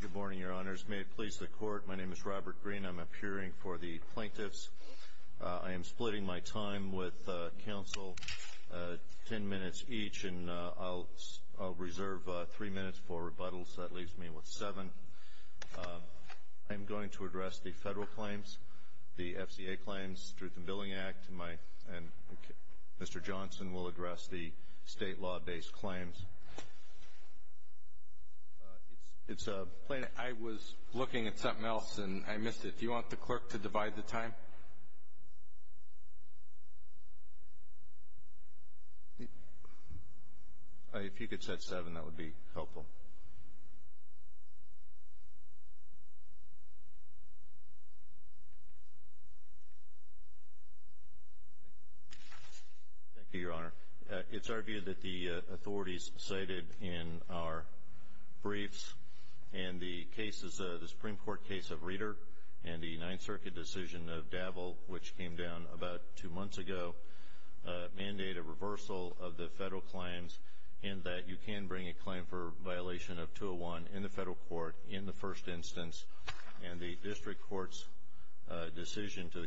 Good morning, Your Honors. May it please the Court, my name is Robert Greene. I'm appearing for the Plaintiffs. I am splitting my time with counsel ten minutes each and I'll reserve three minutes for rebuttals. That leaves me with seven. I'm going to address the federal claims, the FCA claims through the Billing Act and Mr. Johnson will address the state law based claims. I was looking at something else and I missed it. Do you want the clerk to divide the time? If you could set seven, that would be helpful. Thank you, Your Honor. It's argued that the authorities cited in our briefs and the cases, the Supreme Court case of Reeder and the Ninth Circuit decision of Davel, which came down about two months ago, mandate a reversal of the federal claims and that you can bring a claim for violation of 201 in the federal court in the first instance and the district court's decision to the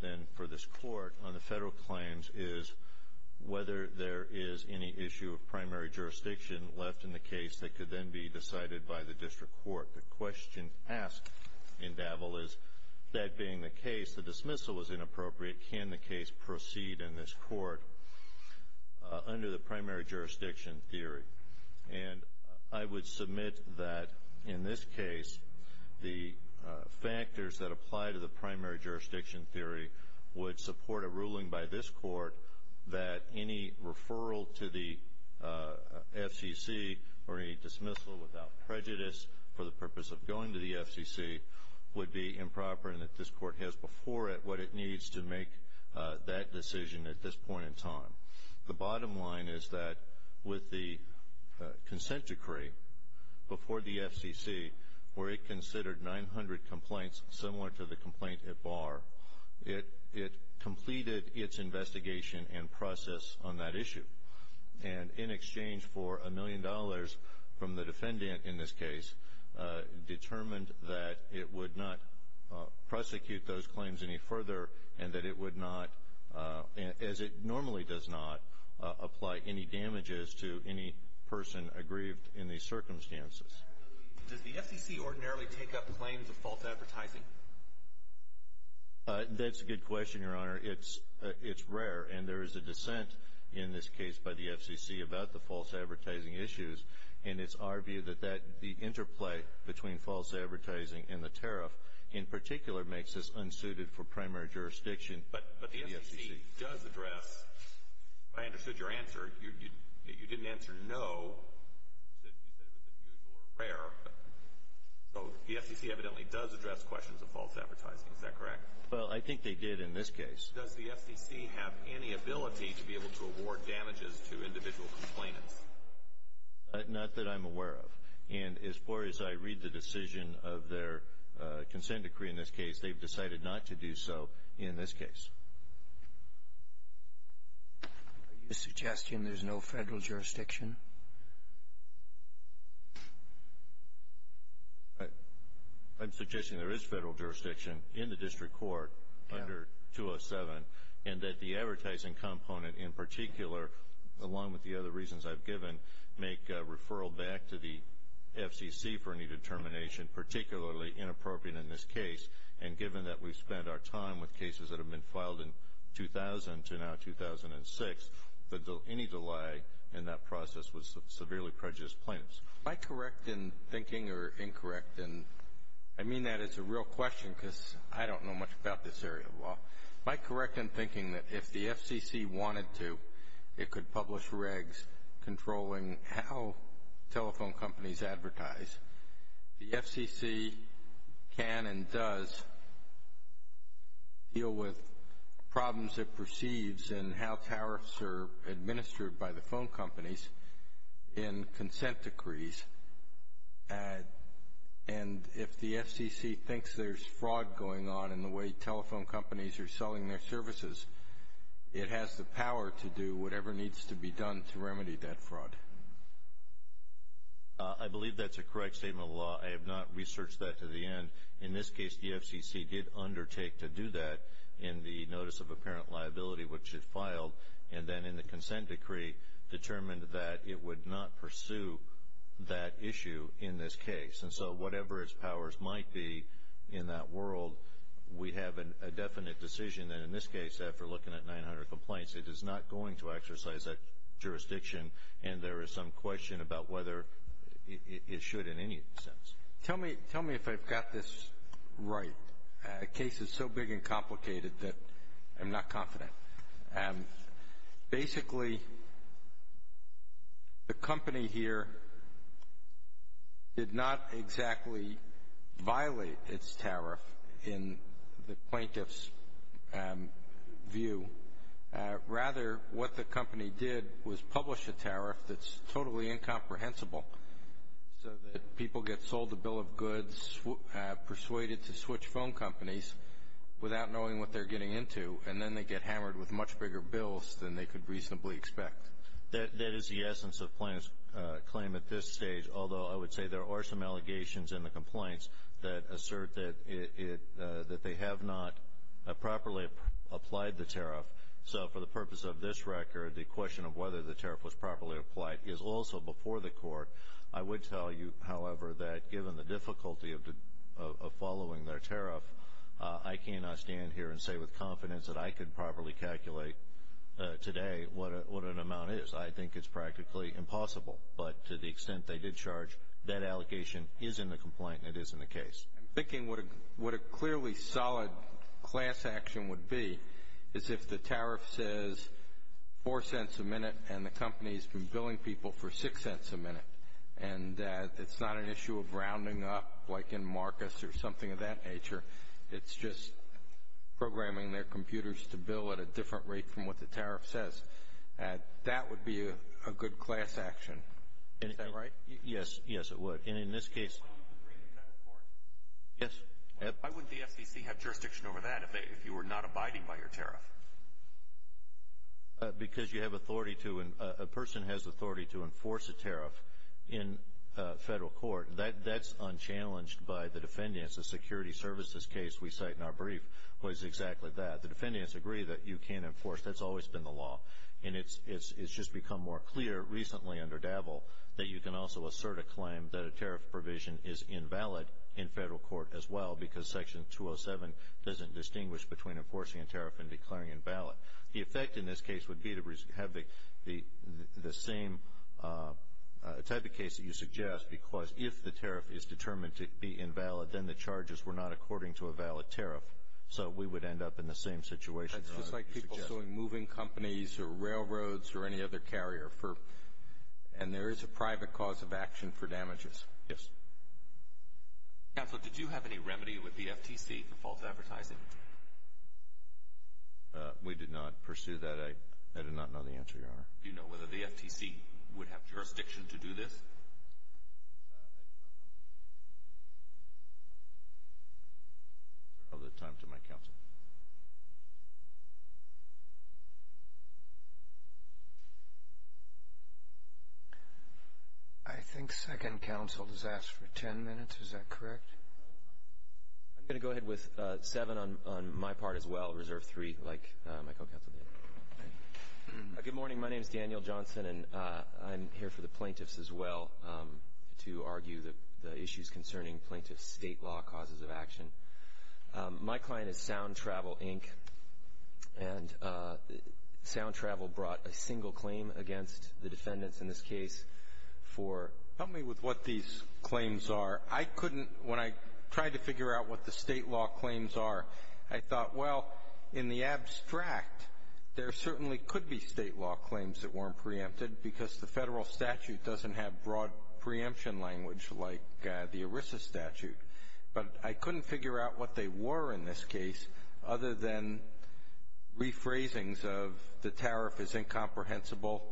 then for this court on the federal claims is whether there is any issue of primary jurisdiction left in the case that could then be decided by the district court. The question asked in Davel is, that being the case, the dismissal was inappropriate, can the case proceed in this court under the primary jurisdiction theory? And I would submit that in this case, the factors that apply to the primary jurisdiction theory would support a ruling by this court that any referral to the FCC or any dismissal without prejudice for the purpose of going to the FCC would be improper and that this court has before it what it needs to make that decision at this point in time. The bottom line is that with the consent decree before the FCC where it considered 900 complaints, similar to the complaint at Barr, it completed its investigation and process on that issue and in exchange for a million dollars from the defendant in this case, determined that it would not prosecute those claims any further and that it would not, as it normally does not, apply any damages to any person aggrieved in these circumstances. Does the FCC ordinarily take up claims of false advertising? That's a good question, Your Honor. It's rare and there is a dissent in this case by the FCC about the false advertising issues and it's our view that the interplay between false advertising and the tariff in particular makes us unsuited for primary jurisdiction. But the FCC does address, if I understood your answer, you didn't answer no. You said it was unusual or rare. So the FCC evidently does address questions of false advertising. Is that correct? Well, I think they did in this case. Does the FCC have any ability to be able to award damages to individual complainants? Not that I'm aware of and as far as I read the decision of their consent decree in this case, they've decided not to do so in this case. Are you suggesting there's no federal jurisdiction? I'm suggesting there is federal jurisdiction in the district court under 207 and that the advertising component in particular, along with the other reasons I've given, make a referral back to the FCC for any determination, particularly inappropriate in this case. And given that we've spent our time with cases that have been filed in 2000 to now 2006, that any delay in that process would severely prejudice plaintiffs. Am I correct in thinking or incorrect in, I mean that as a real question because I don't know much about this area of law, am I correct in thinking that if the FCC wanted to, it could publish regs controlling how telephone companies advertise, the FCC can and does deal with problems it perceives and how tariffs are administered by the phone companies in consent decrees. And if the FCC thinks there's fraud going on in the way telephone companies are selling their services, it has the power to do whatever needs to be done to remedy that fraud. I believe that's a correct statement of law. I have not researched that to the end. In this case, the FCC did undertake to do that in the notice of apparent liability which it filed and then in the consent decree determined that it would not pursue that issue in this case. And so whatever its powers might be in that world, we have a definite decision that in this case, after looking at 900 complaints, it is not going to exercise that jurisdiction and there is some question about whether it should in any sense. Tell me if I've got this right. The case is so big and complicated that I'm not confident. Basically the company here did not exactly violate its tariff in the plaintiff's view. Rather, what the company did was publish a tariff that's totally incomprehensible so that people get sold a bill of goods, persuaded to switch phone companies without knowing what they're getting into, and then they get hammered with much bigger bills than they could reasonably expect. That is the essence of the plaintiff's claim at this stage, although I would say there are some allegations in the complaints that assert that they have not properly applied the tariff. So for the purpose of this record, the question of whether the tariff was properly applied is also before the court. I would tell you, however, that given the difficulty of following their tariff, I cannot stand here and say with confidence that I could properly calculate today what an amount is. I think it's practically impossible. But to the extent they did charge, that allegation is in the complaint and it is in the case. I'm thinking what a clearly solid class action would be is if the tariff says four cents a minute and the company's been billing people for six cents a minute, and it's not an issue of rounding up like in Marcus or something of that nature. It's just programming their computers to bill at a different rate from what the tariff says. That would be a good class action. Is that right? Yes, yes it would. And in this case... Would you agree in federal court? Yes. Why wouldn't the FCC have jurisdiction over that if you were not abiding by your tariff? Because you have authority to, a person has authority to enforce a tariff in federal court. That's unchallenged by the defendants. The security services case we cite in our brief was exactly that. The defendants agree that you can't enforce, that's always been the that a tariff provision is invalid in federal court as well because section 207 doesn't distinguish between enforcing a tariff and declaring invalid. The effect in this case would be to have the same type of case that you suggest because if the tariff is determined to be invalid, then the charges were not according to a valid tariff. So we would end up in the same situation. That's just like people suing moving companies or railroads or any other carrier for, and there is a private cause of action for damages. Yes. Counselor, did you have any remedy with the FTC for false advertising? We did not pursue that. I did not know the answer, Your Honor. Do you know whether the FTC would have jurisdiction to do this? I do not know. I'll leave the time to my counsel. I think second counsel has asked for ten minutes. Is that correct? I'm going to go ahead with seven on my part as well, reserve three like my co-counsel did. Good morning. My name is Daniel Johnson, and I'm here for the plaintiffs as well to argue the issues concerning plaintiff state law causes of action. My client is Sound Travel, Inc., and Sound Travel brought a single claim against the defendants in this case for Help me with what these claims are. I couldn't, when I tried to figure out what the state law claims are, I thought, well, in the abstract, there certainly could be state law claims that weren't preempted because the federal statute doesn't have broad preemption language like the ERISA statute. But I couldn't figure out what they were in this case other than rephrasing of the tariff is incomprehensible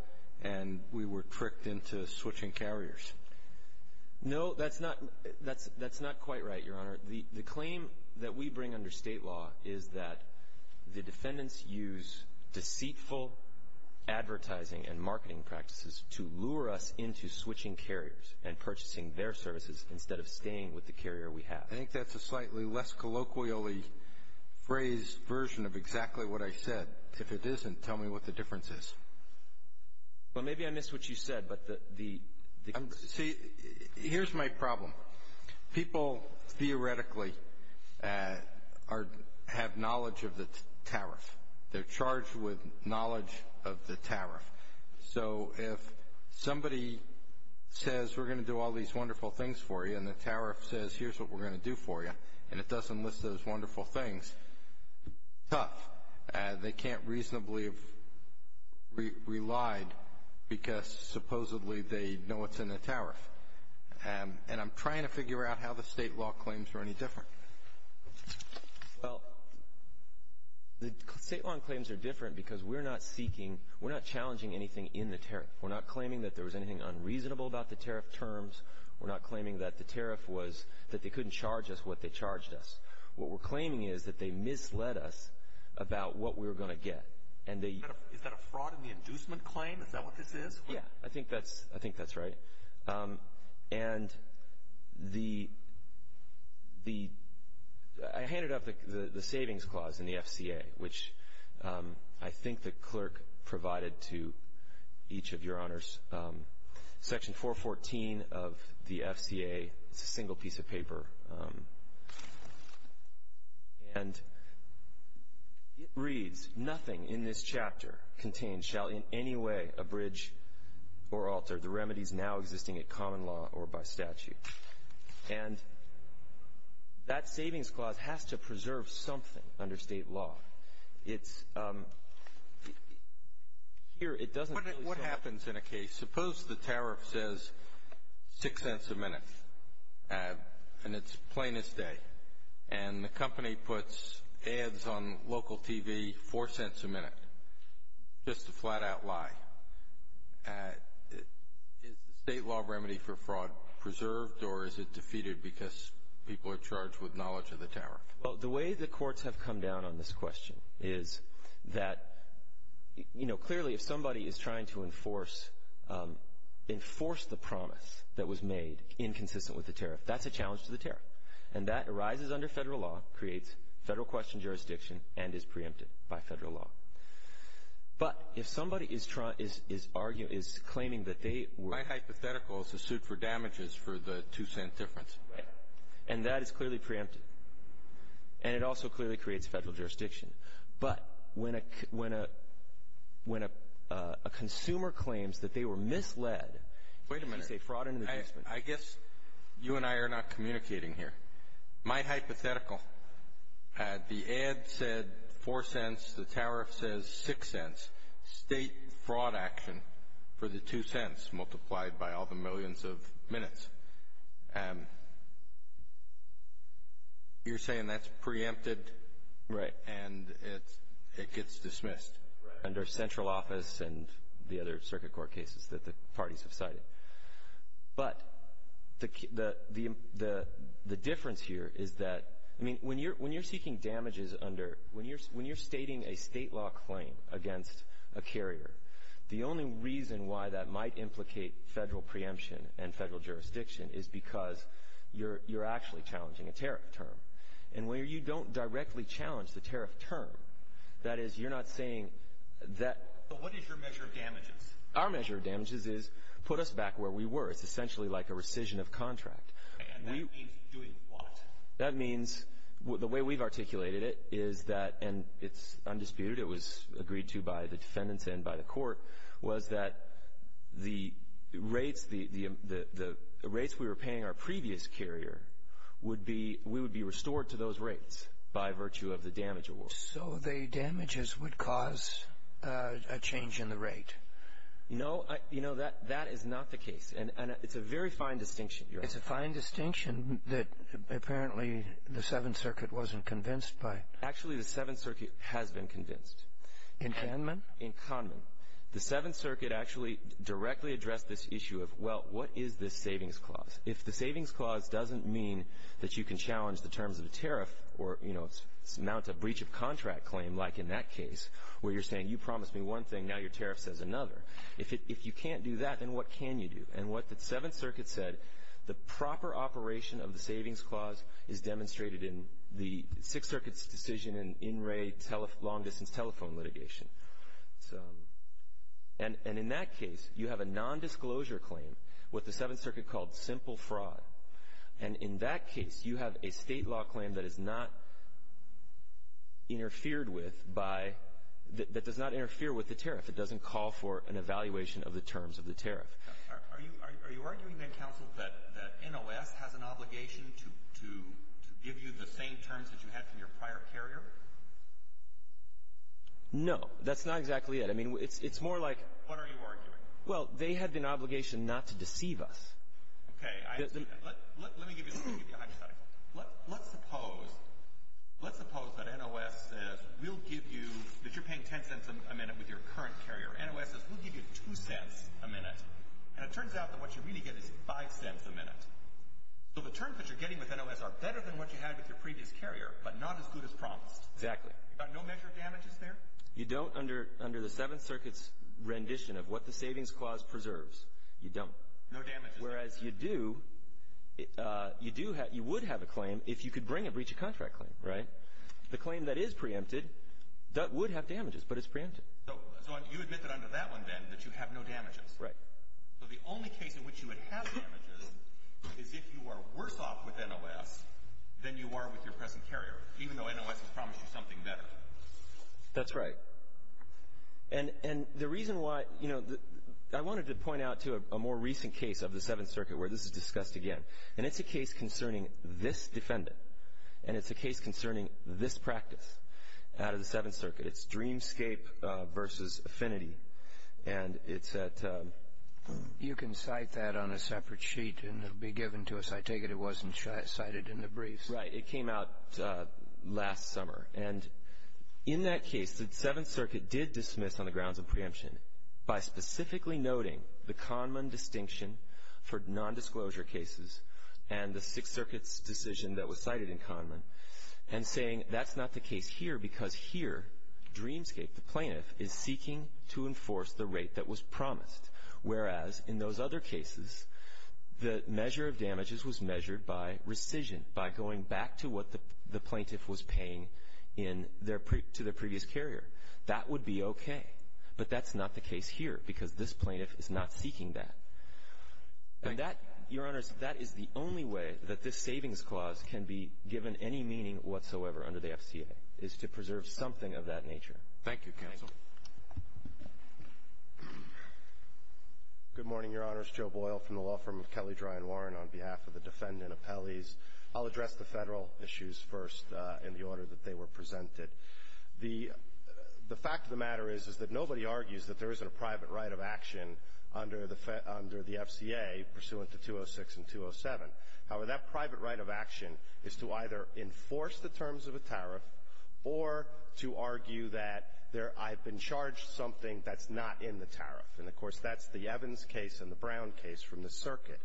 and we were tricked into switching carriers. No, that's not quite right, Your Honor. The claim that we bring under state law is that the defendants use deceitful advertising and marketing practices to lure us into switching carriers and purchasing their services instead of staying with the carrier we have. I think that's a slightly less colloquially phrased version of exactly what I said. If it isn't, tell me what the difference is. Well, maybe I missed what you said. Here's my problem. People theoretically have knowledge of the tariff. They're charged with knowledge of the tariff. So if somebody says, we're going to do all these wonderful things for you, and the tariff says, here's what we're going to do for you, and it doesn't list those wonderful things, tough. They can't reasonably have relied because supposedly they know what's in the tariff. And I'm trying to figure out how the state law claims are any different. Well, the state law claims are different because we're not seeking, we're not challenging anything in the tariff. We're not claiming that there was anything unreasonable about the tariff terms. We're not claiming that the tariff was that they couldn't charge us what they charged us. What we're claiming is that they misled us about what we were going to get. Is that a fraud in the inducement claim? Is that what this is? Yeah, I think that's right. And I handed up the savings clause in the FCA, which I think the clerk provided to each of your honors. Section 414 of the FCA, it's a single piece of paper, and it reads, nothing in this chapter contained shall in any way abridge or alter the remedies now existing at common law or by statute. And that savings clause has to preserve something under state law. It's here. It doesn't really say. What happens in a case? Suppose the tariff says six cents a minute, and it's plain as day, and the company puts ads on local TV four cents a minute, just a flat-out lie. Is the state law remedy for fraud preserved, or is it defeated because people are charged with knowledge of the tariff? Well, the way the courts have come down on this question is that, you know, clearly if somebody is trying to enforce the promise that was made inconsistent with the tariff, that's a challenge to the tariff. And that arises under federal law, creates federal question jurisdiction, and is preempted by federal law. But if somebody is arguing, is claiming that they were- My hypothetical is to suit for damages for the two-cent difference. Right. And that is clearly preempted. And it also clearly creates federal jurisdiction. But when a consumer claims that they were misled- Wait a minute. I guess you and I are not communicating here. My hypothetical, the ad said four cents, the tariff says six cents. That's state fraud action for the two cents multiplied by all the millions of minutes. And you're saying that's preempted- Right. And it gets dismissed. Right. Under central office and the other circuit court cases that the parties have cited. But the difference here is that, I mean, when you're seeking damages under, when you're stating a state law claim against a carrier, the only reason why that might implicate federal preemption and federal jurisdiction is because you're actually challenging a tariff term. And where you don't directly challenge the tariff term, that is you're not saying that- Our measure of damages is put us back where we were. It's essentially like a rescission of contract. And that means doing what? That means the way we've articulated it is that, and it's undisputed, it was agreed to by the defendants and by the court, was that the rates we were paying our previous carrier would be, we would be restored to those rates by virtue of the damage award. So the damages would cause a change in the rate. No, you know, that is not the case. And it's a very fine distinction. It's a fine distinction that apparently the Seventh Circuit wasn't convinced by. Actually, the Seventh Circuit has been convinced. In Kahneman? In Kahneman. The Seventh Circuit actually directly addressed this issue of, well, what is this savings clause? If the savings clause doesn't mean that you can challenge the terms of a tariff or, you know, mount a breach of contract claim, like in that case, where you're saying you promised me one thing, now your tariff says another. If you can't do that, then what can you do? And what the Seventh Circuit said, the proper operation of the savings clause is demonstrated in the Sixth Circuit's decision in in-ray long-distance telephone litigation. And in that case, you have a nondisclosure claim, what the Seventh Circuit called simple fraud. And in that case, you have a state law claim that is not interfered with by, that does not interfere with the tariff. It doesn't call for an evaluation of the terms of the tariff. Are you arguing then, counsel, that NOS has an obligation to give you the same terms that you had from your prior carrier? No. That's not exactly it. I mean, it's more like. What are you arguing? Well, they had an obligation not to deceive us. Okay. Let me give you a hypothetical. Let's suppose, let's suppose that NOS says we'll give you, that you're paying 10 cents a minute with your current carrier. NOS says we'll give you 2 cents a minute. And it turns out that what you really get is 5 cents a minute. So the terms that you're getting with NOS are better than what you had with your previous carrier, but not as good as promised. Exactly. You got no measured damages there? You don't under the Seventh Circuit's rendition of what the Savings Clause preserves. You don't. No damages. Whereas you do, you would have a claim if you could bring a breach of contract claim, right? The claim that is preempted would have damages, but it's preempted. So you admit that under that one, then, that you have no damages. Right. So the only case in which you would have damages is if you are worse off with NOS than you are with your present carrier, even though NOS has promised you something better. That's right. And the reason why, you know, I wanted to point out to a more recent case of the Seventh Circuit where this is discussed again. And it's a case concerning this defendant, and it's a case concerning this practice out of the Seventh Circuit. It's Dreamscape versus Affinity. And it's at ‑‑ You can cite that on a separate sheet, and it will be given to us. I take it it wasn't cited in the briefs. Right. It came out last summer. And in that case, the Seventh Circuit did dismiss on the grounds of preemption by specifically noting the Conman distinction for nondisclosure cases and the Sixth Circuit's decision that was cited in Conman and saying that's not the case here because here, Dreamscape, the plaintiff, is seeking to enforce the rate that was promised, whereas in those other cases, the measure of damages was measured by rescission, by going back to what the plaintiff was paying in their ‑‑ to their previous carrier. That would be okay. But that's not the case here because this plaintiff is not seeking that. And that, Your Honors, that is the only way that this savings clause can be given any meaning whatsoever under the FCA, is to preserve something of that nature. Thank you, counsel. Good morning, Your Honors. Joe Boyle from the law firm of Kelly, Dry and Warren on behalf of the defendant appellees. I'll address the Federal issues first in the order that they were presented. The fact of the matter is that nobody argues that there isn't a private right of action under the FCA pursuant to 206 and 207. However, that private right of action is to either enforce the terms of a tariff or to argue that I've been charged something that's not in the tariff. And, of course, that's the Evans case and the Brown case from the circuit.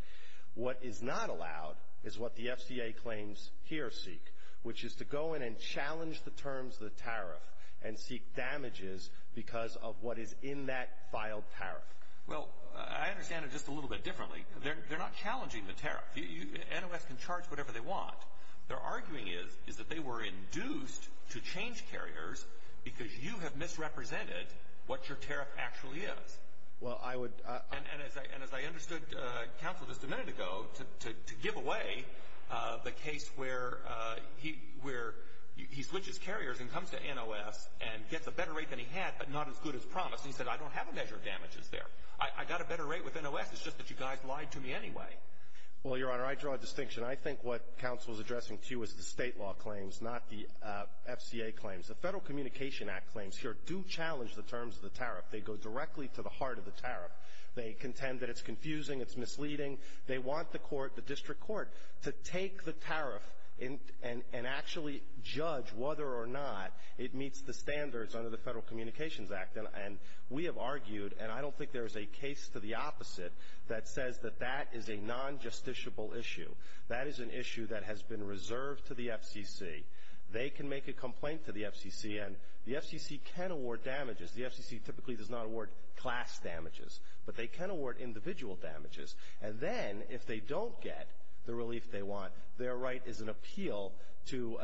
What is not allowed is what the FCA claims here seek, which is to go in and challenge the terms of the tariff and seek damages because of what is in that filed tariff. Well, I understand it just a little bit differently. They're not challenging the tariff. NOS can charge whatever they want. Their arguing is that they were induced to change carriers because you have misrepresented what your tariff actually is. And as I understood, Counsel, just a minute ago, to give away the case where he switches carriers and comes to NOS and gets a better rate than he had but not as good as promised. And he said, I don't have a measure of damages there. I got a better rate with NOS. It's just that you guys lied to me anyway. Well, Your Honor, I draw a distinction. I think what Counsel is addressing, too, is the state law claims, not the FCA claims. The Federal Communication Act claims here do challenge the terms of the tariff. They go directly to the heart of the tariff. They contend that it's confusing, it's misleading. They want the court, the district court, to take the tariff and actually judge whether or not it meets the standards under the Federal Communications Act. And we have argued, and I don't think there is a case to the opposite that says that that is a non-justiciable issue. That is an issue that has been reserved to the FCC. They can make a complaint to the FCC, and the FCC can award damages. The FCC typically does not award class damages, but they can award individual damages. And then, if they don't get the relief they want, their right is an appeal to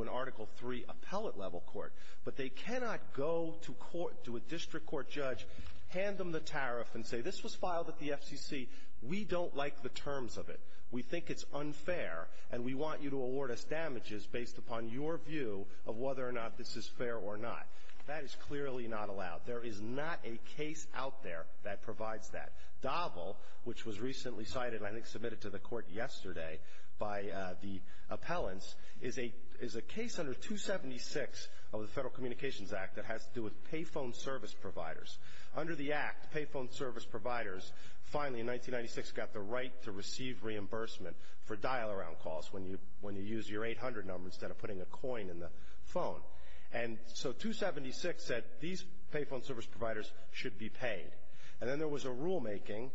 an Article III appellate-level court. But they cannot go to court, to a district court judge, hand them the tariff, and say this was filed at the FCC. We don't like the terms of it. We think it's unfair, and we want you to award us damages based upon your view of whether or not this is fair or not. That is clearly not allowed. There is not a case out there that provides that. DAVL, which was recently cited and I think submitted to the court yesterday by the appellants, is a case under 276 of the Federal Communications Act that has to do with payphone service providers. Under the Act, payphone service providers finally, in 1996, got the right to receive reimbursement for dial-around calls when you use your 800 number instead of putting a coin in the phone. And so 276 said these payphone service providers should be paid. And then there was a rulemaking,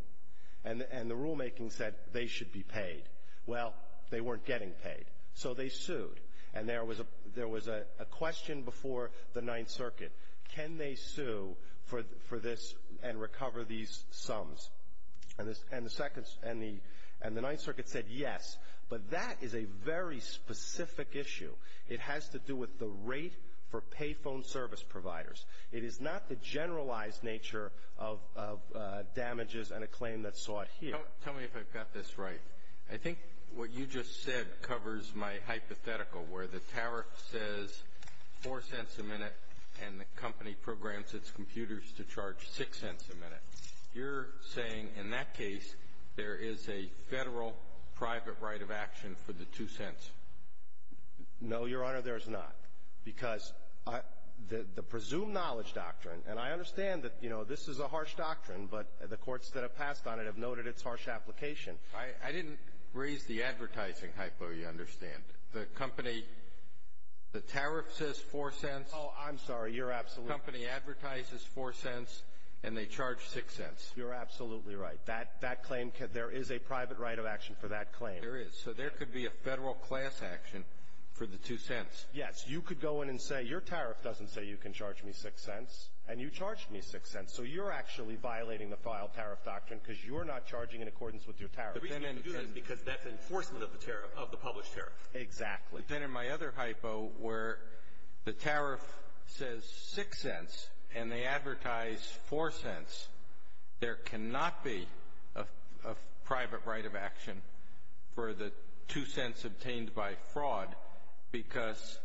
and the rulemaking said they should be paid. Well, they weren't getting paid, so they sued. And there was a question before the Ninth Circuit, can they sue for this and recover these sums? And the Ninth Circuit said yes, but that is a very specific issue. It has to do with the rate for payphone service providers. It is not the generalized nature of damages and a claim that's sought here. Tell me if I've got this right. I think what you just said covers my hypothetical where the tariff says $0.04 a minute and the company programs its computers to charge $0.06 a minute. You're saying in that case there is a federal private right of action for the $0.02. No, Your Honor, there is not. Because the presumed knowledge doctrine, and I understand that, you know, this is a harsh doctrine, but the courts that have passed on it have noted its harsh application. I didn't raise the advertising hypo, you understand. The company, the tariff says $0.04. Oh, I'm sorry. You're absolutely right. The company advertises $0.04, and they charge $0.06. You're absolutely right. That claim, there is a private right of action for that claim. There is. So there could be a federal class action for the $0.02. Yes. You could go in and say your tariff doesn't say you can charge me $0.06, and you charged me $0.06. So you're actually violating the filed tariff doctrine because you're not charging in accordance with your tariff. The reason you can do that is because that's enforcement of the tariff, of the published tariff. Exactly. But then in my other hypo where the tariff says $0.06 and they advertise $0.04, there cannot be a private right of action for the $0.02 obtained by fraud because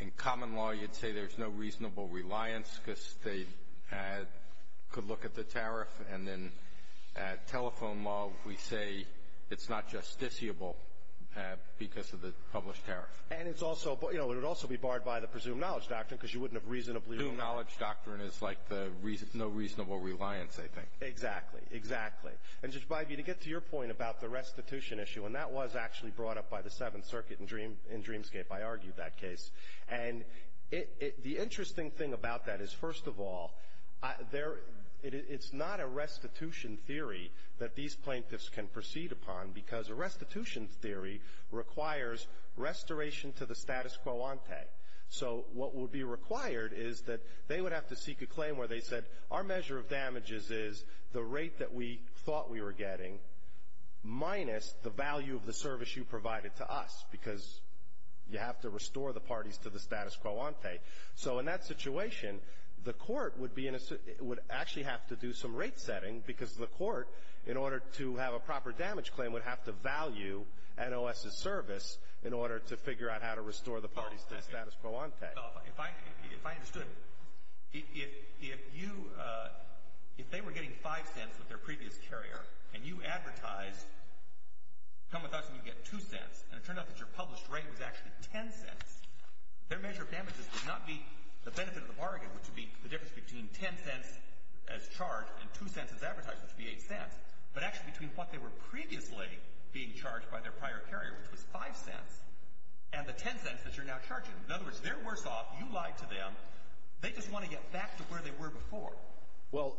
in common law you'd say there's no reasonable reliance because they could look at the tariff. And then at telephone law we say it's not justiciable because of the published tariff. And it's also, you know, it would also be barred by the presumed knowledge doctrine because you wouldn't have reasonably ruled out. There's no reasonable reliance, I think. Exactly. Exactly. And, Judge Bybee, to get to your point about the restitution issue, and that was actually brought up by the Seventh Circuit in Dreamscape. I argued that case. And the interesting thing about that is, first of all, it's not a restitution theory that these plaintiffs can proceed upon because a restitution theory requires restoration to the status quo ante. So what would be required is that they would have to seek a claim where they said, our measure of damages is the rate that we thought we were getting minus the value of the service you provided to us because you have to restore the parties to the status quo ante. So in that situation, the court would actually have to do some rate setting because the court, in order to have a proper damage claim, would have to value NOS's service in order to figure out how to restore the parties to the status quo ante. Well, if I understood, if you, if they were getting 5 cents with their previous carrier and you advertised, come with us and you get 2 cents, and it turned out that your published rate was actually 10 cents, their measure of damages would not be the benefit of the bargain, which would be the difference between 10 cents as charged and 2 cents as advertised, which would be 8 cents, but actually between what they were previously being charged by their prior carrier, which was 5 cents, and the 10 cents that you're now charging. In other words, they're worse off. You lied to them. They just want to get back to where they were before. Well,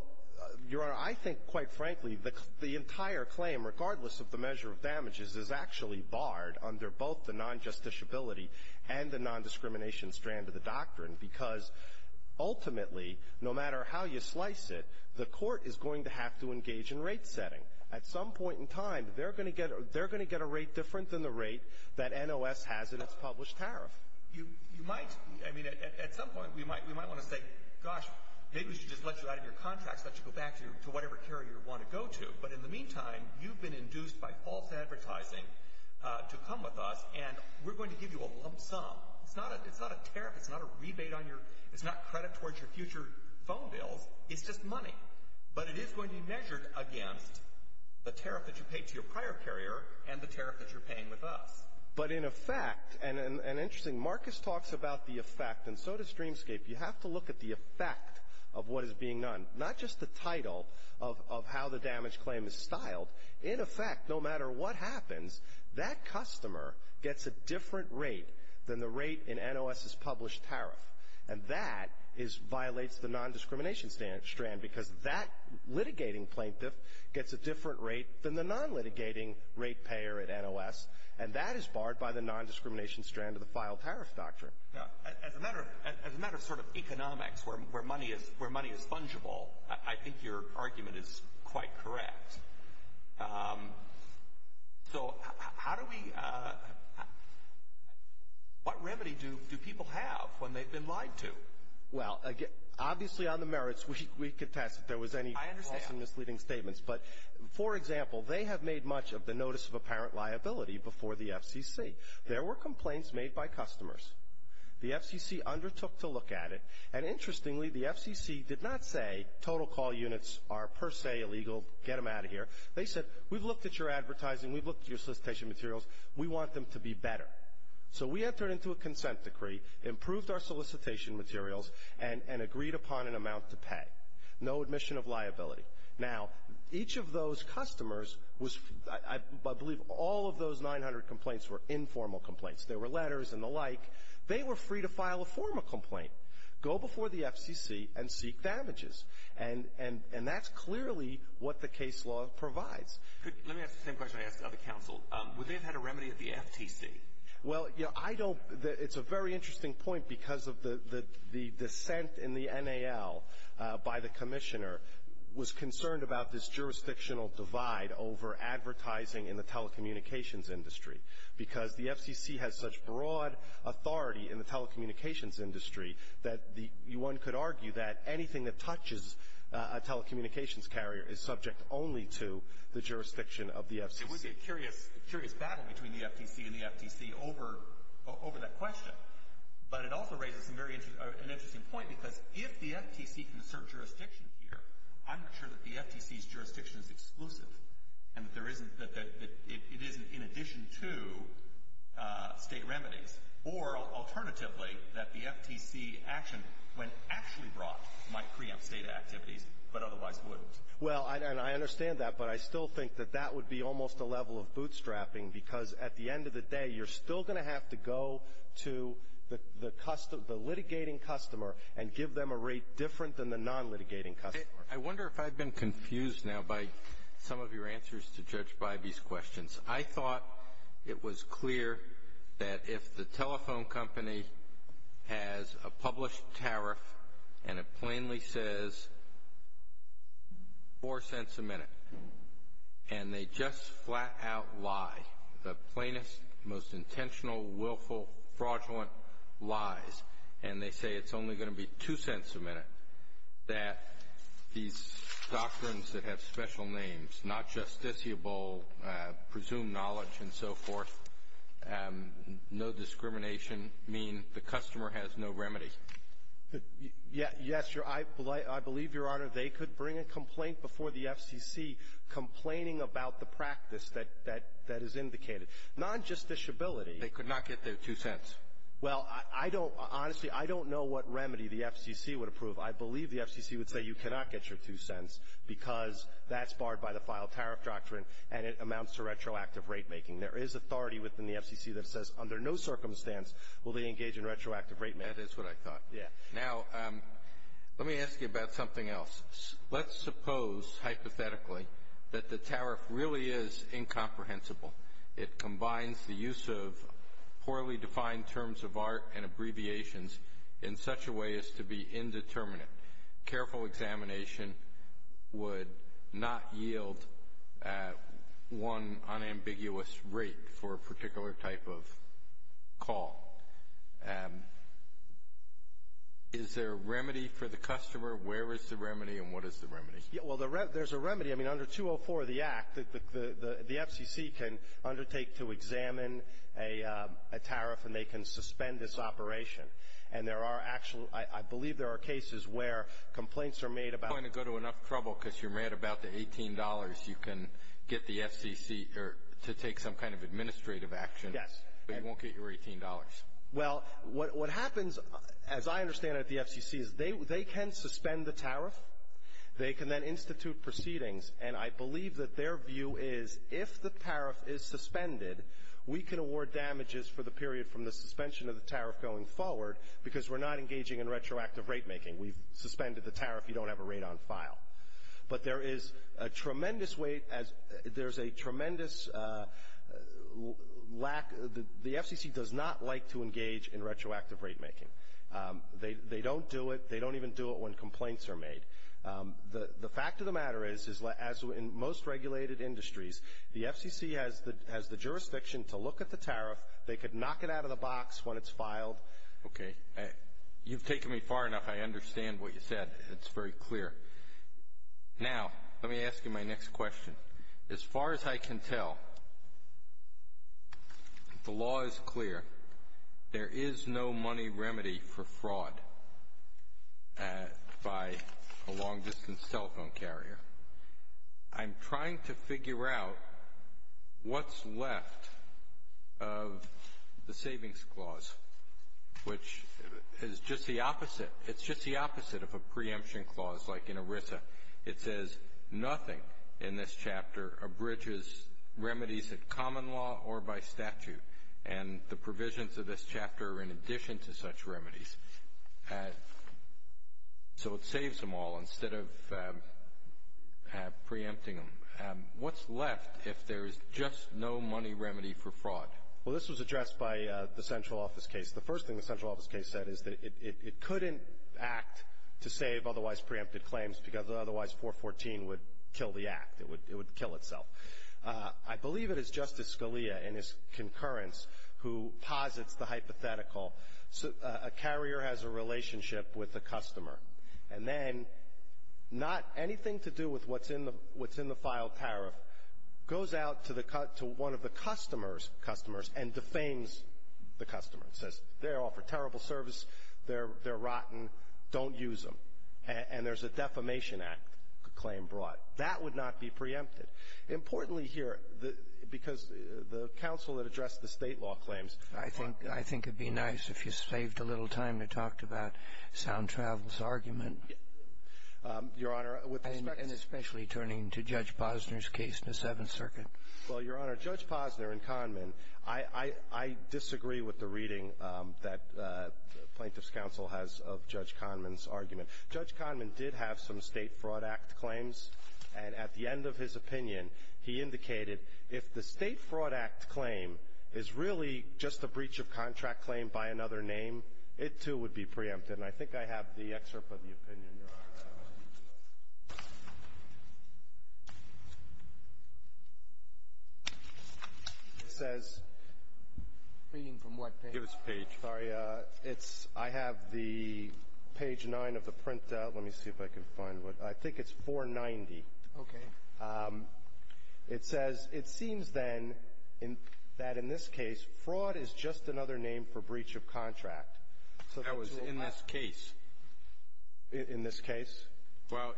Your Honor, I think, quite frankly, the entire claim, regardless of the measure of damages, is actually barred under both the non-justiciability and the nondiscrimination strand of the doctrine because ultimately, no matter how you slice it, the court is going to have to engage in rate setting. At some point in time, they're going to get a rate different than the rate that NOS has in its published tariff. You might, I mean, at some point, we might want to say, gosh, maybe we should just let you out of your contracts, let you go back to whatever carrier you want to go to, but in the meantime, you've been induced by false advertising to come with us, and we're going to give you a lump sum. It's not a tariff. It's not a rebate on your, it's not credit towards your future phone bills. It's just money. But it is going to be measured against the tariff that you paid to your prior carrier and the tariff that you're paying with us. But in effect, and interesting, Marcus talks about the effect, and so does Streamscape. You have to look at the effect of what is being done, not just the title of how the damage claim is styled. In effect, no matter what happens, that customer gets a different rate than the rate in NOS's non-discrimination strand, because that litigating plaintiff gets a different rate than the non-litigating rate payer at NOS, and that is barred by the non-discrimination strand of the filed tariff doctrine. As a matter of sort of economics, where money is fungible, I think your argument is quite correct. So how do we, what remedy do people have when they've been lied to? Well, obviously on the merits, we could test if there was any false and misleading statements. But for example, they have made much of the notice of apparent liability before the FCC. There were complaints made by customers. The FCC undertook to look at it, and interestingly, the FCC did not say total call units are per se illegal, get them out of here. They said, we've looked at your advertising, we've looked at your solicitation materials, we want them to be better. So we entered into a consent decree, improved our solicitation materials, and agreed upon an amount to pay. No admission of liability. Now, each of those customers was, I believe all of those 900 complaints were informal complaints. There were letters and the like. They were free to file a formal complaint, go before the FCC, and seek damages. And that's clearly what the case law provides. Let me ask the same question I asked the other counsel. Would they have had a remedy at the FTC? Well, it's a very interesting point because of the dissent in the NAL by the commissioner was concerned about this jurisdictional divide over advertising in the telecommunications industry. Because the FCC has such broad authority in the telecommunications industry that one could It would be a curious battle between the FTC and the FTC over that question. But it also raises an interesting point because if the FTC can assert jurisdiction here, I'm sure that the FTC's jurisdiction is exclusive. And that it isn't in addition to state remedies. Or, alternatively, that the FTC action, when actually brought, might preempt state activities, but otherwise wouldn't. Well, and I understand that, but I still think that that would be almost a level of bootstrapping because at the end of the day, you're still going to have to go to the litigating customer and give them a rate different than the non-litigating customer. I wonder if I've been confused now by some of your answers to Judge Bybee's questions. I thought it was clear that if the telephone company has a published tariff and it plainly says $0.04 a minute, and they just flat out lie, the plainest, most intentional, willful, fraudulent lies, and they say it's only going to be $0.02 a minute, that these doctrines that have special names, not justiciable, presumed knowledge, and so forth, no discrimination, mean the customer has no remedy. Yes. I believe, Your Honor, they could bring a complaint before the FCC complaining about the practice that is indicated. Non-justiciability — They could not get their $0.02. Well, I don't — honestly, I don't know what remedy the FCC would approve. I believe the FCC would say you cannot get your $0.02 because that's barred by the filed tariff doctrine, and it amounts to retroactive rate making. There is authority within the FCC that says under no circumstance will they engage in retroactive rate making. That is what I thought. Yes. Now, let me ask you about something else. Let's suppose, hypothetically, that the tariff really is incomprehensible. It combines the use of poorly defined terms of art and abbreviations in such a way as to be indeterminate. Careful examination would not yield one unambiguous rate for a particular type of call. Is there a remedy for the customer? Where is the remedy, and what is the remedy? Well, there's a remedy. I mean, under 204 of the Act, the FCC can undertake to examine a tariff, and they can suspend this operation. And there are actual, I believe there are cases where complaints are made about. You're not going to go to enough trouble because you're mad about the $18 you can get the FCC to take some kind of administrative action. Yes. But you won't get your $18. Well, what happens, as I understand it, at the FCC is they can suspend the tariff. They can then institute proceedings, and I believe that their view is if the tariff is suspended, we can award damages for the period from the suspension of the tariff going forward because we're not engaging in retroactive rate making. We've suspended the tariff. You don't have a rate on file. But there is a tremendous weight, there's a tremendous lack. The FCC does not like to engage in retroactive rate making. They don't do it. They don't even do it when complaints are made. The fact of the matter is, as in most regulated industries, the FCC has the jurisdiction to look at the tariff. They could knock it out of the box when it's filed. Okay. You've taken me far enough. I understand what you said. It's very clear. Now, let me ask you my next question. As far as I can tell, the law is clear. There is no money remedy for fraud by a long-distance telephone carrier. I'm trying to figure out what's left of the savings clause, which is just the opposite. It's just the opposite of a preemption clause like in ERISA. It says nothing in this chapter abridges remedies in common law or by statute. And the provisions of this chapter are in addition to such remedies. So it saves them all instead of preempting them. What's left if there is just no money remedy for fraud? Well, this was addressed by the central office case. The first thing the central office case said is that it couldn't act to save otherwise preempted claims because otherwise 414 would kill the act. It would kill itself. I believe it is Justice Scalia in his concurrence who posits the hypothetical. A carrier has a relationship with a customer, and then not anything to do with what's in the filed tariff goes out to one of the customer's customers and defames the customer. It says they offer terrible service. They're rotten. Don't use them. And there's a defamation act claim brought. That would not be preempted. Importantly here, because the counsel that addressed the State law claims ---- I think it would be nice if you saved a little time to talk about Sound Travel's argument. Your Honor, with respect to ---- Well, Your Honor, Judge Posner and Kahneman, I disagree with the reading that Plaintiff's Counsel has of Judge Kahneman's argument. Judge Kahneman did have some State Fraud Act claims. And at the end of his opinion, he indicated if the State Fraud Act claim is really just a breach of contract claim by another name, it, too, would be preempted. And I think I have the excerpt of the opinion. It says ---- Reading from what page? Give us a page. Sorry. It's ---- I have the page 9 of the printout. Let me see if I can find what ---- I think it's 490. Okay. It says, it seems, then, that in this case, fraud is just another name for breach of contract. That was in this case. In this case? Well,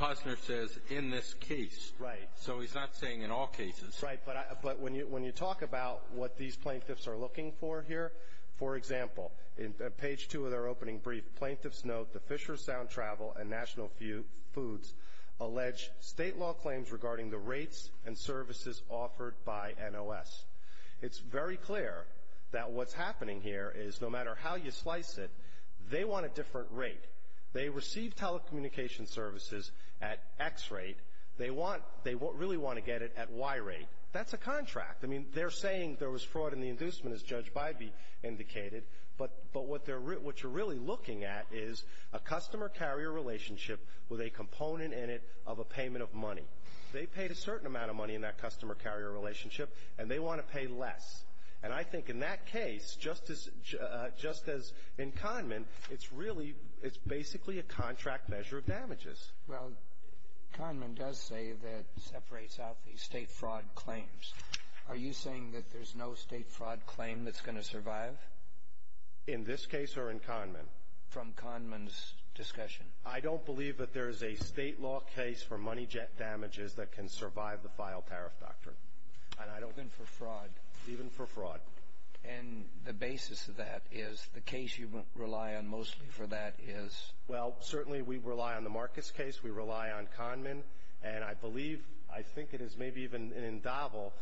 Posner says, in this case. Right. So he's not saying in all cases. Right. But when you talk about what these plaintiffs are looking for here, for example, in page 2 of their opening brief, plaintiffs note the Fisher Sound Travel and National Foods allege State law claims regarding the rates and services offered by NOS. It's very clear that what's happening here is, no matter how you slice it, they want a different rate. They receive telecommunications services at X rate. They want ---- they really want to get it at Y rate. That's a contract. I mean, they're saying there was fraud in the inducement, as Judge Bybee indicated. But what they're ---- what you're really looking at is a customer-carrier relationship with a component in it of a payment of money. They paid a certain amount of money in that customer-carrier relationship, and they want to pay less. And I think in that case, just as in Kahneman, it's really ---- it's basically a contract measure of damages. Well, Kahneman does say that it separates out the state fraud claims. Are you saying that there's no state fraud claim that's going to survive? In this case or in Kahneman? From Kahneman's discussion. I don't believe that there is a state law case for money jet damages that can survive the file tariff doctrine. And I don't ---- Even for fraud? Even for fraud. And the basis of that is the case you rely on mostly for that is? Well, certainly we rely on the Marcus case. We rely on Kahneman. And I believe, I think it is maybe even an endowment,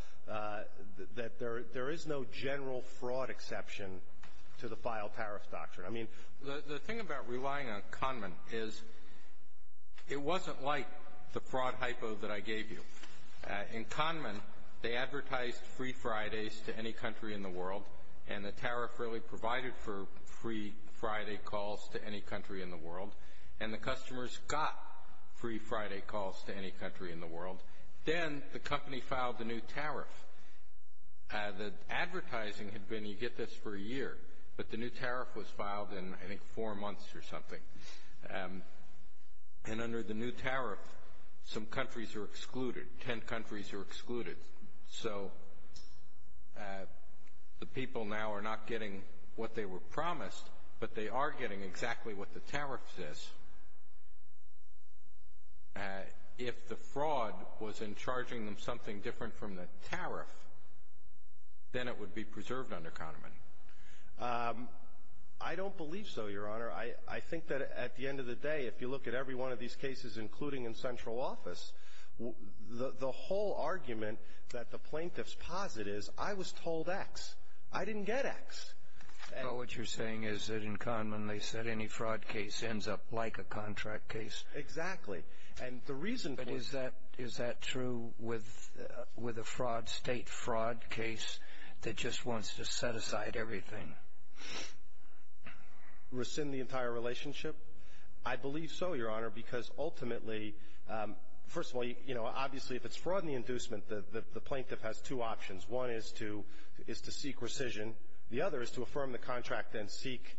that there is no general fraud exception to the file tariff doctrine. I mean ---- The thing about relying on Kahneman is it wasn't like the fraud hypo that I gave you. In Kahneman, they advertised free Fridays to any country in the world, and the tariff really provided for free Friday calls to any country in the world, and the customers got free Friday calls to any country in the world. Then the company filed a new tariff. The advertising had been, you get this for a year, but the new tariff was filed in, I think, four months or something. And under the new tariff, some countries are excluded. Ten countries are excluded. So the people now are not getting what they were promised, but they are getting exactly what the tariff says. If the fraud was in charging them something different from the tariff, then it would be preserved under Kahneman. I don't believe so, Your Honor. I think that at the end of the day, if you look at every one of these cases, including in central office, the whole argument that the plaintiffs posit is, I was told X. I didn't get X. Well, what you're saying is that in Kahneman, they said any fraud case ends up like a contract case. Exactly. And the reason for it. But is that true with a state fraud case that just wants to set aside everything? Rescind the entire relationship? I believe so, Your Honor, because ultimately, first of all, obviously, if it's fraud and the inducement, the plaintiff has two options. One is to seek rescission. The other is to affirm the contract and seek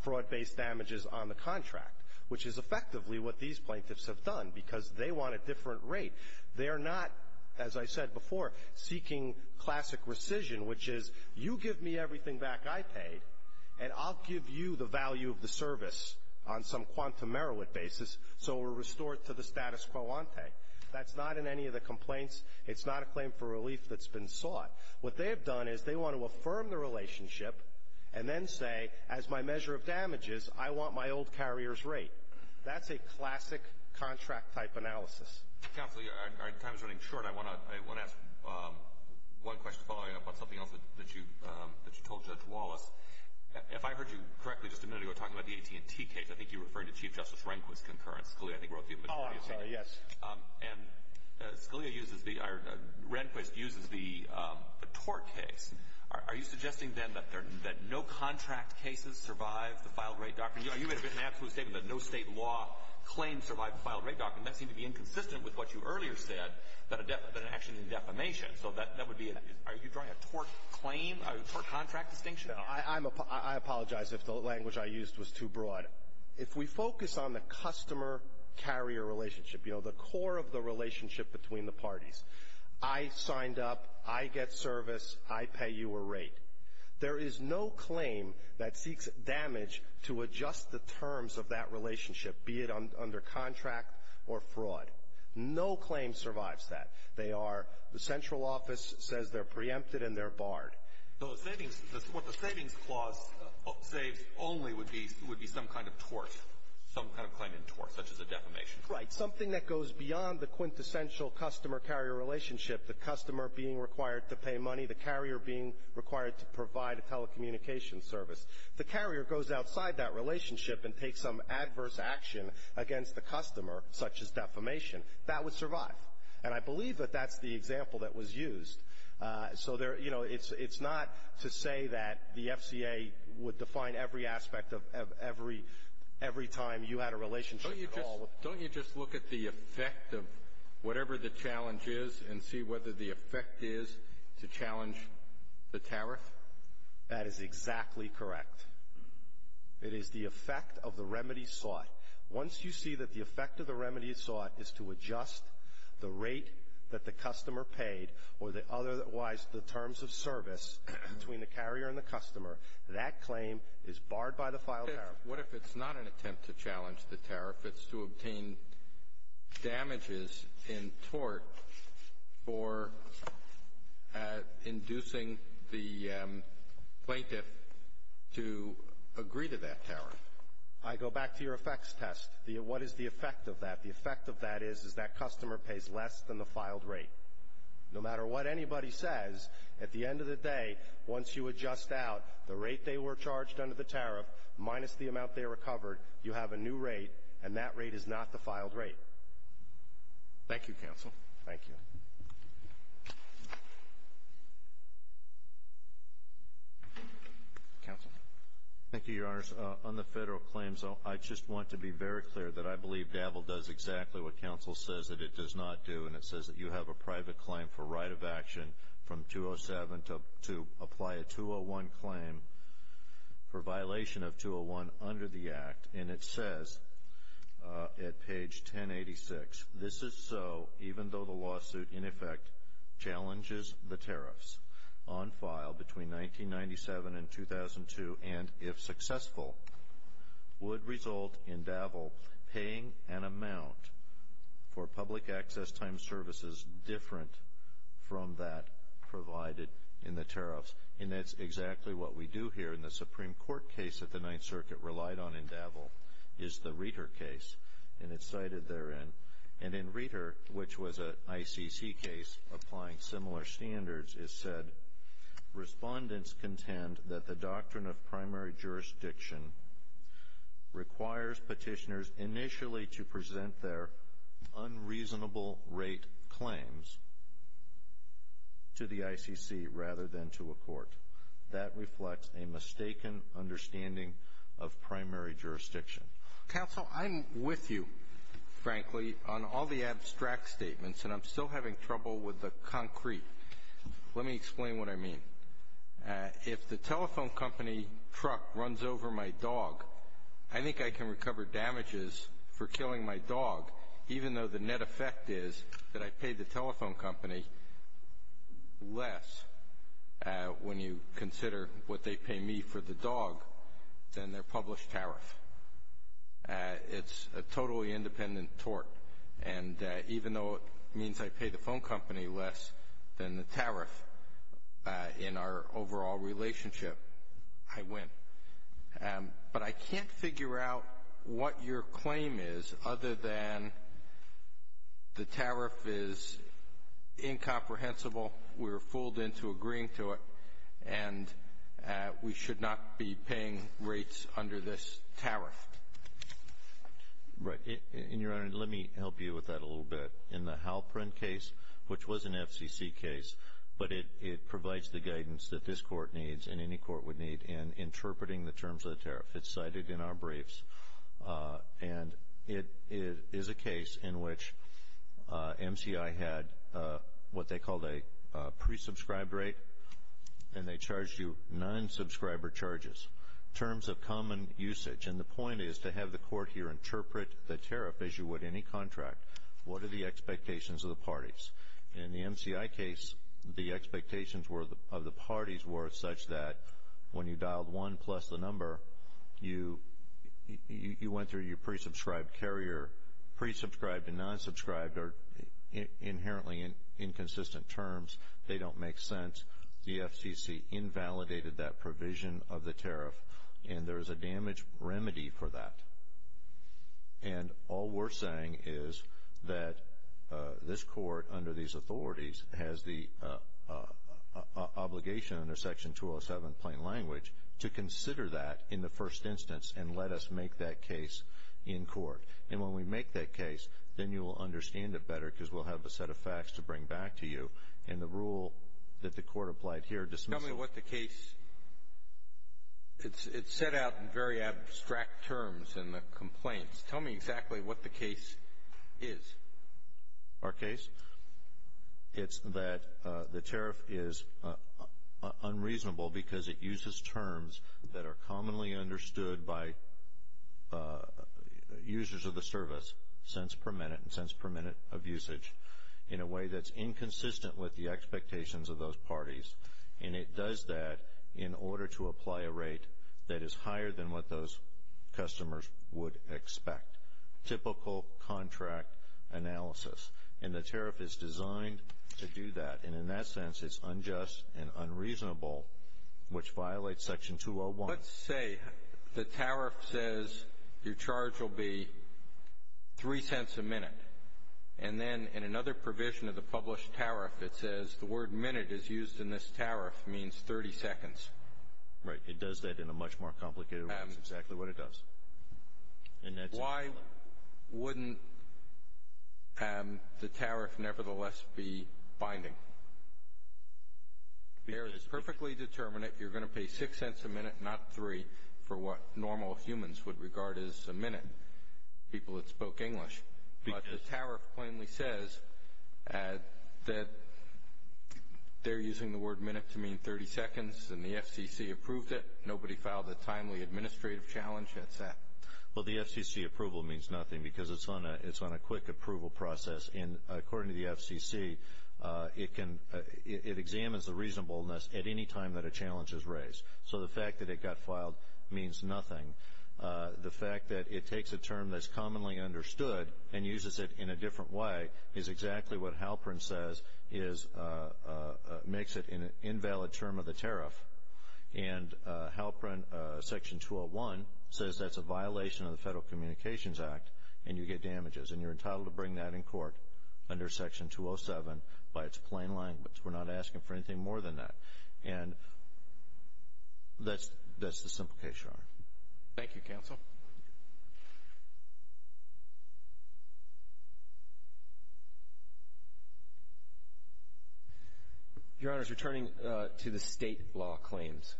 fraud-based damages on the contract, which is effectively what these plaintiffs have done, because they want a different rate. They are not, as I said before, seeking classic rescission, which is you give me everything back I paid, and I'll give you the value of the service on some quantum Merowith basis so we're restored to the status quo ante. That's not in any of the complaints. It's not a claim for relief that's been sought. What they have done is they want to affirm the relationship and then say, as my measure of damages, I want my old carrier's rate. That's a classic contract-type analysis. Counselor, our time is running short. I want to ask one question following up on something else that you told Judge Wallace. If I heard you correctly just a minute ago talking about the AT&T case, I think you were referring to Chief Justice Rehnquist's concurrence. Scalia, I think, wrote to you. Oh, I'm sorry. Yes. And Scalia uses the, or Rehnquist uses the tort case. Are you suggesting then that no contract cases survive the filed rate doctrine? You made an absolute statement that no state law claim survived the filed rate doctrine. That seemed to be inconsistent with what you earlier said, that it actually needed defamation. So that would be, are you drawing a tort claim, a tort contract distinction? I apologize if the language I used was too broad. But if we focus on the customer-carrier relationship, you know, the core of the relationship between the parties, I signed up, I get service, I pay you a rate, there is no claim that seeks damage to adjust the terms of that relationship, be it under contract or fraud. No claim survives that. They are, the central office says they're preempted and they're barred. Those savings, what the savings clause saves only would be some kind of tort, some kind of claim in tort, such as a defamation. Right. Something that goes beyond the quintessential customer-carrier relationship, the customer being required to pay money, the carrier being required to provide a telecommunications service. If the carrier goes outside that relationship and takes some adverse action against the customer, such as defamation, that would survive. And I believe that that's the example that was used. So there, you know, it's not to say that the FCA would define every aspect of every time you had a relationship at all. Don't you just look at the effect of whatever the challenge is and see whether the effect is to challenge the tariff? That is exactly correct. It is the effect of the remedy sought. Once you see that the effect of the remedy sought is to adjust the rate that the otherwise the terms of service between the carrier and the customer, that claim is barred by the filed tariff. What if it's not an attempt to challenge the tariff? It's to obtain damages in tort for inducing the plaintiff to agree to that tariff. I go back to your effects test. What is the effect of that? The effect of that is that customer pays less than the filed rate. No matter what anybody says, at the end of the day, once you adjust out the rate they were charged under the tariff minus the amount they recovered, you have a new rate, and that rate is not the filed rate. Thank you, Counsel. Thank you. Counsel. Thank you, Your Honors. On the federal claims, I just want to be very clear that I believe DAVL does exactly what a private claim for right of action from 207 to apply a 201 claim for violation of 201 under the Act, and it says at page 1086, this is so even though the lawsuit in effect challenges the tariffs on file between 1997 and 2002 and, if successful, would result in DAVL paying an amount for public access time services different from that provided in the tariffs. And that's exactly what we do here in the Supreme Court case that the Ninth Circuit relied on in DAVL is the Reiter case, and it's cited therein. And in Reiter, which was an ICC case applying similar standards, it said, Respondents contend that the doctrine of primary jurisdiction requires petitioners initially to submit reasonable rate claims to the ICC rather than to a court. That reflects a mistaken understanding of primary jurisdiction. Counsel, I'm with you, frankly, on all the abstract statements, and I'm still having trouble with the concrete. Let me explain what I mean. If the telephone company truck runs over my dog, I think I can recover damages for killing my dog, even though the net effect is that I pay the telephone company less when you consider what they pay me for the dog than their published tariff. It's a totally independent tort, and even though it means I pay the phone company less than the tariff, in our overall relationship, I win. But I can't figure out what your claim is other than the tariff is incomprehensible, we're fooled into agreeing to it, and we should not be paying rates under this tariff. Right. And, Your Honor, let me help you with that a little bit. In the Halperin case, which was an FCC case, but it provides the guidance that this court needs and any court would need in interpreting the terms of the tariff. It's cited in our briefs, and it is a case in which MCI had what they called a pre-subscribed rate, and they charged you nine subscriber charges. Terms of common usage, and the point is to have the court here interpret the tariff as you would any contract. What are the expectations of the parties? In the MCI case, the expectations of the parties were such that when you dialed one plus the number, you went through your pre-subscribed carrier. Pre-subscribed and non-subscribed are inherently inconsistent terms. They don't make sense. The FCC invalidated that provision of the tariff, and there is a damage remedy for that. And all we're saying is that this court, under these authorities, has the obligation under Section 207 plain language to consider that in the first instance and let us make that case in court. And when we make that case, then you will understand it better because we'll have a set of facts to bring back to you, and the rule that the court applied here dismisses it. It's set out in very abstract terms in the complaints. Tell me exactly what the case is. Our case? It's that the tariff is unreasonable because it uses terms that are commonly understood by users of the service, cents per minute and cents per minute of usage, in a way that's inconsistent with the expectations of those parties. And it does that in order to apply a rate that is higher than what those customers would expect. Typical contract analysis. And the tariff is designed to do that. And in that sense, it's unjust and unreasonable, which violates Section 201. Let's say the tariff says your charge will be three cents a minute. And then in another provision of the published tariff, it says the word minute is used in this tariff means 30 seconds. Right. It does that in a much more complicated way. That's exactly what it does. Why wouldn't the tariff nevertheless be binding? It's perfectly determinate. You're going to pay six cents a minute, not three, for what normal humans would regard as a minute, people that spoke English. But the tariff plainly says that they're using the word minute to mean 30 seconds, and the FCC approved it. Nobody filed a timely administrative challenge. That's that. Well, the FCC approval means nothing because it's on a quick approval process. And according to the FCC, it examines the reasonableness at any time that a challenge is raised. So the fact that it got filed means nothing. The fact that it takes a term that's commonly understood and uses it in a different way is exactly what Halprin says makes it an invalid term of the tariff. And Halprin, Section 201, says that's a violation of the Federal Communications Act, and you get damages. And you're entitled to bring that in court under Section 207 by its plain language. We're not asking for anything more than that. And that's the simple case, Your Honor. Thank you, Counsel. Your Honors, returning to the state law claims,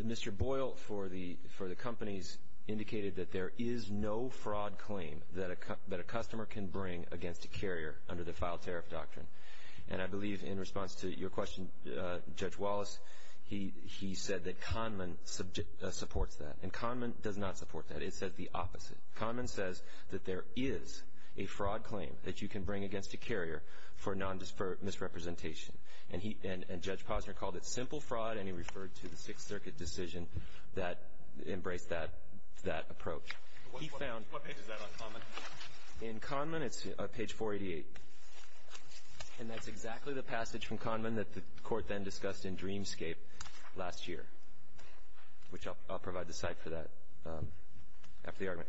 Mr. Boyle, for the companies, indicated that there is no fraud claim that a customer can bring against a carrier under the file tariff doctrine. And I believe in response to your question, Judge Wallace, he said that Kahneman supports that. And Kahneman does not support that. It says the opposite. Kahneman says that there is a fraud claim that you can bring against a carrier for misrepresentation. And Judge Posner called it simple fraud, and he referred to the Sixth Circuit decision that embraced that approach. What page is that on Kahneman? In Kahneman, it's page 488. And that's exactly the passage from Kahneman that the Court then discussed in Dreamscape last year, which I'll provide the site for that after the argument.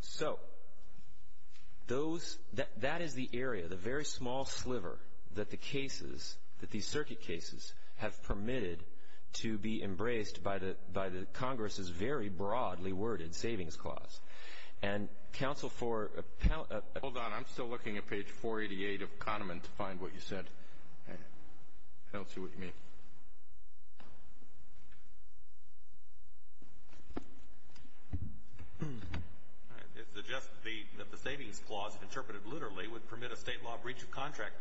So that is the area, the very small sliver, that the cases, that these circuit cases, have permitted to be embraced by the Congress's very broadly worded savings clause. And counsel for ---- Hold on. I'm still looking at page 488 of Kahneman to find what you said. I don't see what you mean. All right. It suggests that the savings clause, interpreted literally, would permit a state law breach of contract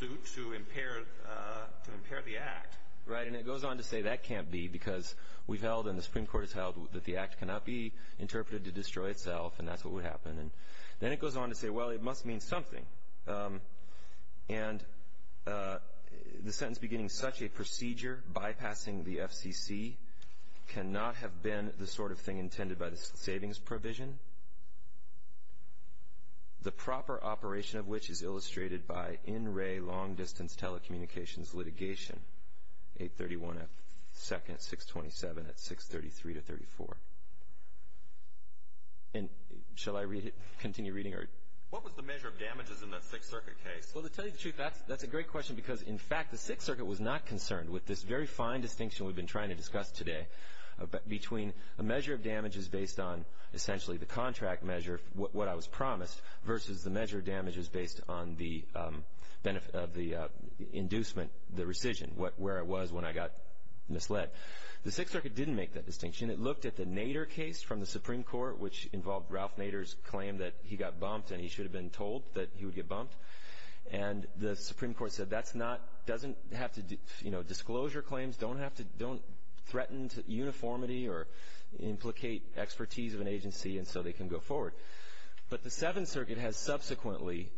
suit to impair the Act. Right, and it goes on to say that can't be because we've held and the Supreme Court has held that the Act cannot be interpreted to destroy itself, and that's what would happen. Then it goes on to say, well, it must mean something. And the sentence beginning, such a procedure bypassing the FCC, cannot have been the sort of thing intended by the savings provision, the proper operation of which is illustrated by in-ray long distance telecommunications litigation, 831 at second, 627 at 633 to 34. And shall I read it, continue reading? What was the measure of damages in that Sixth Circuit case? Well, to tell you the truth, that's a great question because, in fact, the Sixth Circuit was not concerned with this very fine distinction we've been trying to discuss today between a measure of damages based on essentially the contract measure, what I was promised, versus the measure of damages based on the inducement, the rescission, where I was when I got misled. The Sixth Circuit didn't make that distinction. It looked at the Nader case from the Supreme Court, which involved Ralph Nader's claim that he got bumped and he should have been told that he would get bumped. And the Supreme Court said that's not, doesn't have to, you know, disclosure claims don't have to, don't threaten uniformity or implicate expertise of an agency, and so they can go forward. But the Seventh Circuit has subsequently,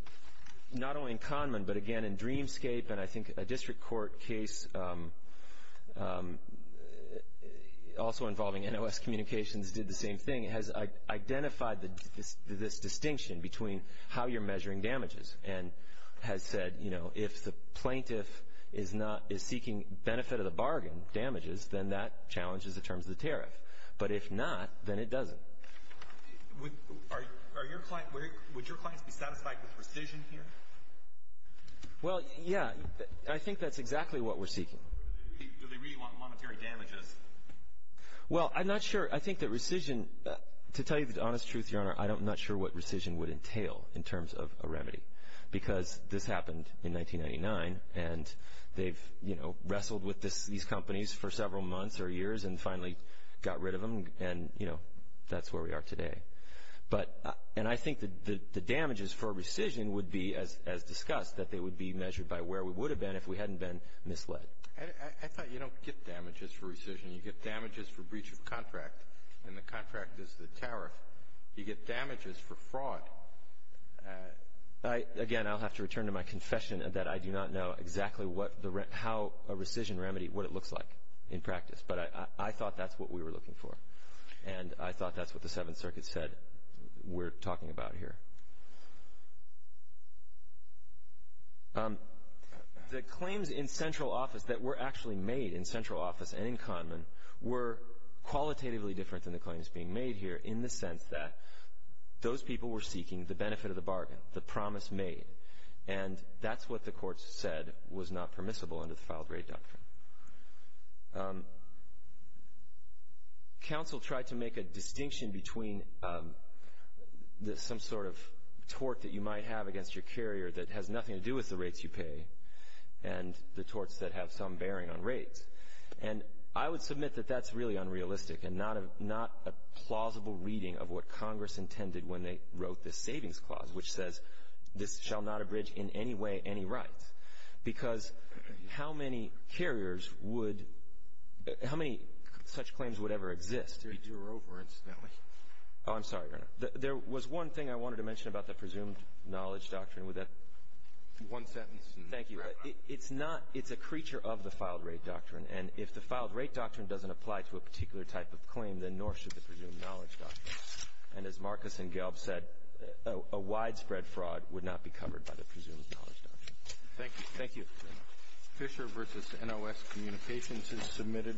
not only in Kahneman, but again in Dreamscape, and I think a district court case also involving NOS Communications did the same thing, has identified this distinction between how you're measuring damages and has said, you know, if the plaintiff is seeking benefit of the bargain damages, then that challenges the terms of the tariff, but if not, then it doesn't. Would your clients be satisfied with rescission here? Well, yeah, I think that's exactly what we're seeking. Do they really want monetary damages? Well, I'm not sure. I think that rescission, to tell you the honest truth, Your Honor, I'm not sure what rescission would entail in terms of a remedy because this happened in 1999, and they've, you know, wrestled with these companies for several months or years and finally got rid of them, and, you know, that's where we are today. And I think that the damages for rescission would be, as discussed, that they would be measured by where we would have been if we hadn't been misled. I thought you don't get damages for rescission. You get damages for breach of contract, and the contract is the tariff. You get damages for fraud. Again, I'll have to return to my confession that I do not know exactly how a rescission remedy, what it looks like in practice, but I thought that's what we were looking for, and I thought that's what the Seventh Circuit said we're talking about here. The claims in central office that were actually made in central office and in Kahneman were qualitatively different than the claims being made here in the sense that those people were seeking the benefit of the bargain, the promise made, and that's what the court said was not permissible under the Filed Rate Doctrine. Counsel tried to make a distinction between some sort of tort that you might have against your carrier that has nothing to do with the rates you pay and the torts that have some bearing on rates. And I would submit that that's really unrealistic and not a plausible reading of what Congress intended when they wrote the Savings Clause, which says this shall not abridge in any way any rights, because how many carriers would, how many such claims would ever exist? You're over, incidentally. Oh, I'm sorry, Your Honor. There was one thing I wanted to mention about the Presumed Knowledge Doctrine. One sentence. Thank you. It's not, it's a creature of the Filed Rate Doctrine, and if the Filed Rate Doctrine doesn't apply to a particular type of claim, then nor should the Presumed Knowledge Doctrine. And as Marcus and Gelb said, a widespread fraud would not be covered by the Presumed Knowledge Doctrine. Thank you. Thank you. Fisher v. NOS Communications is submitted.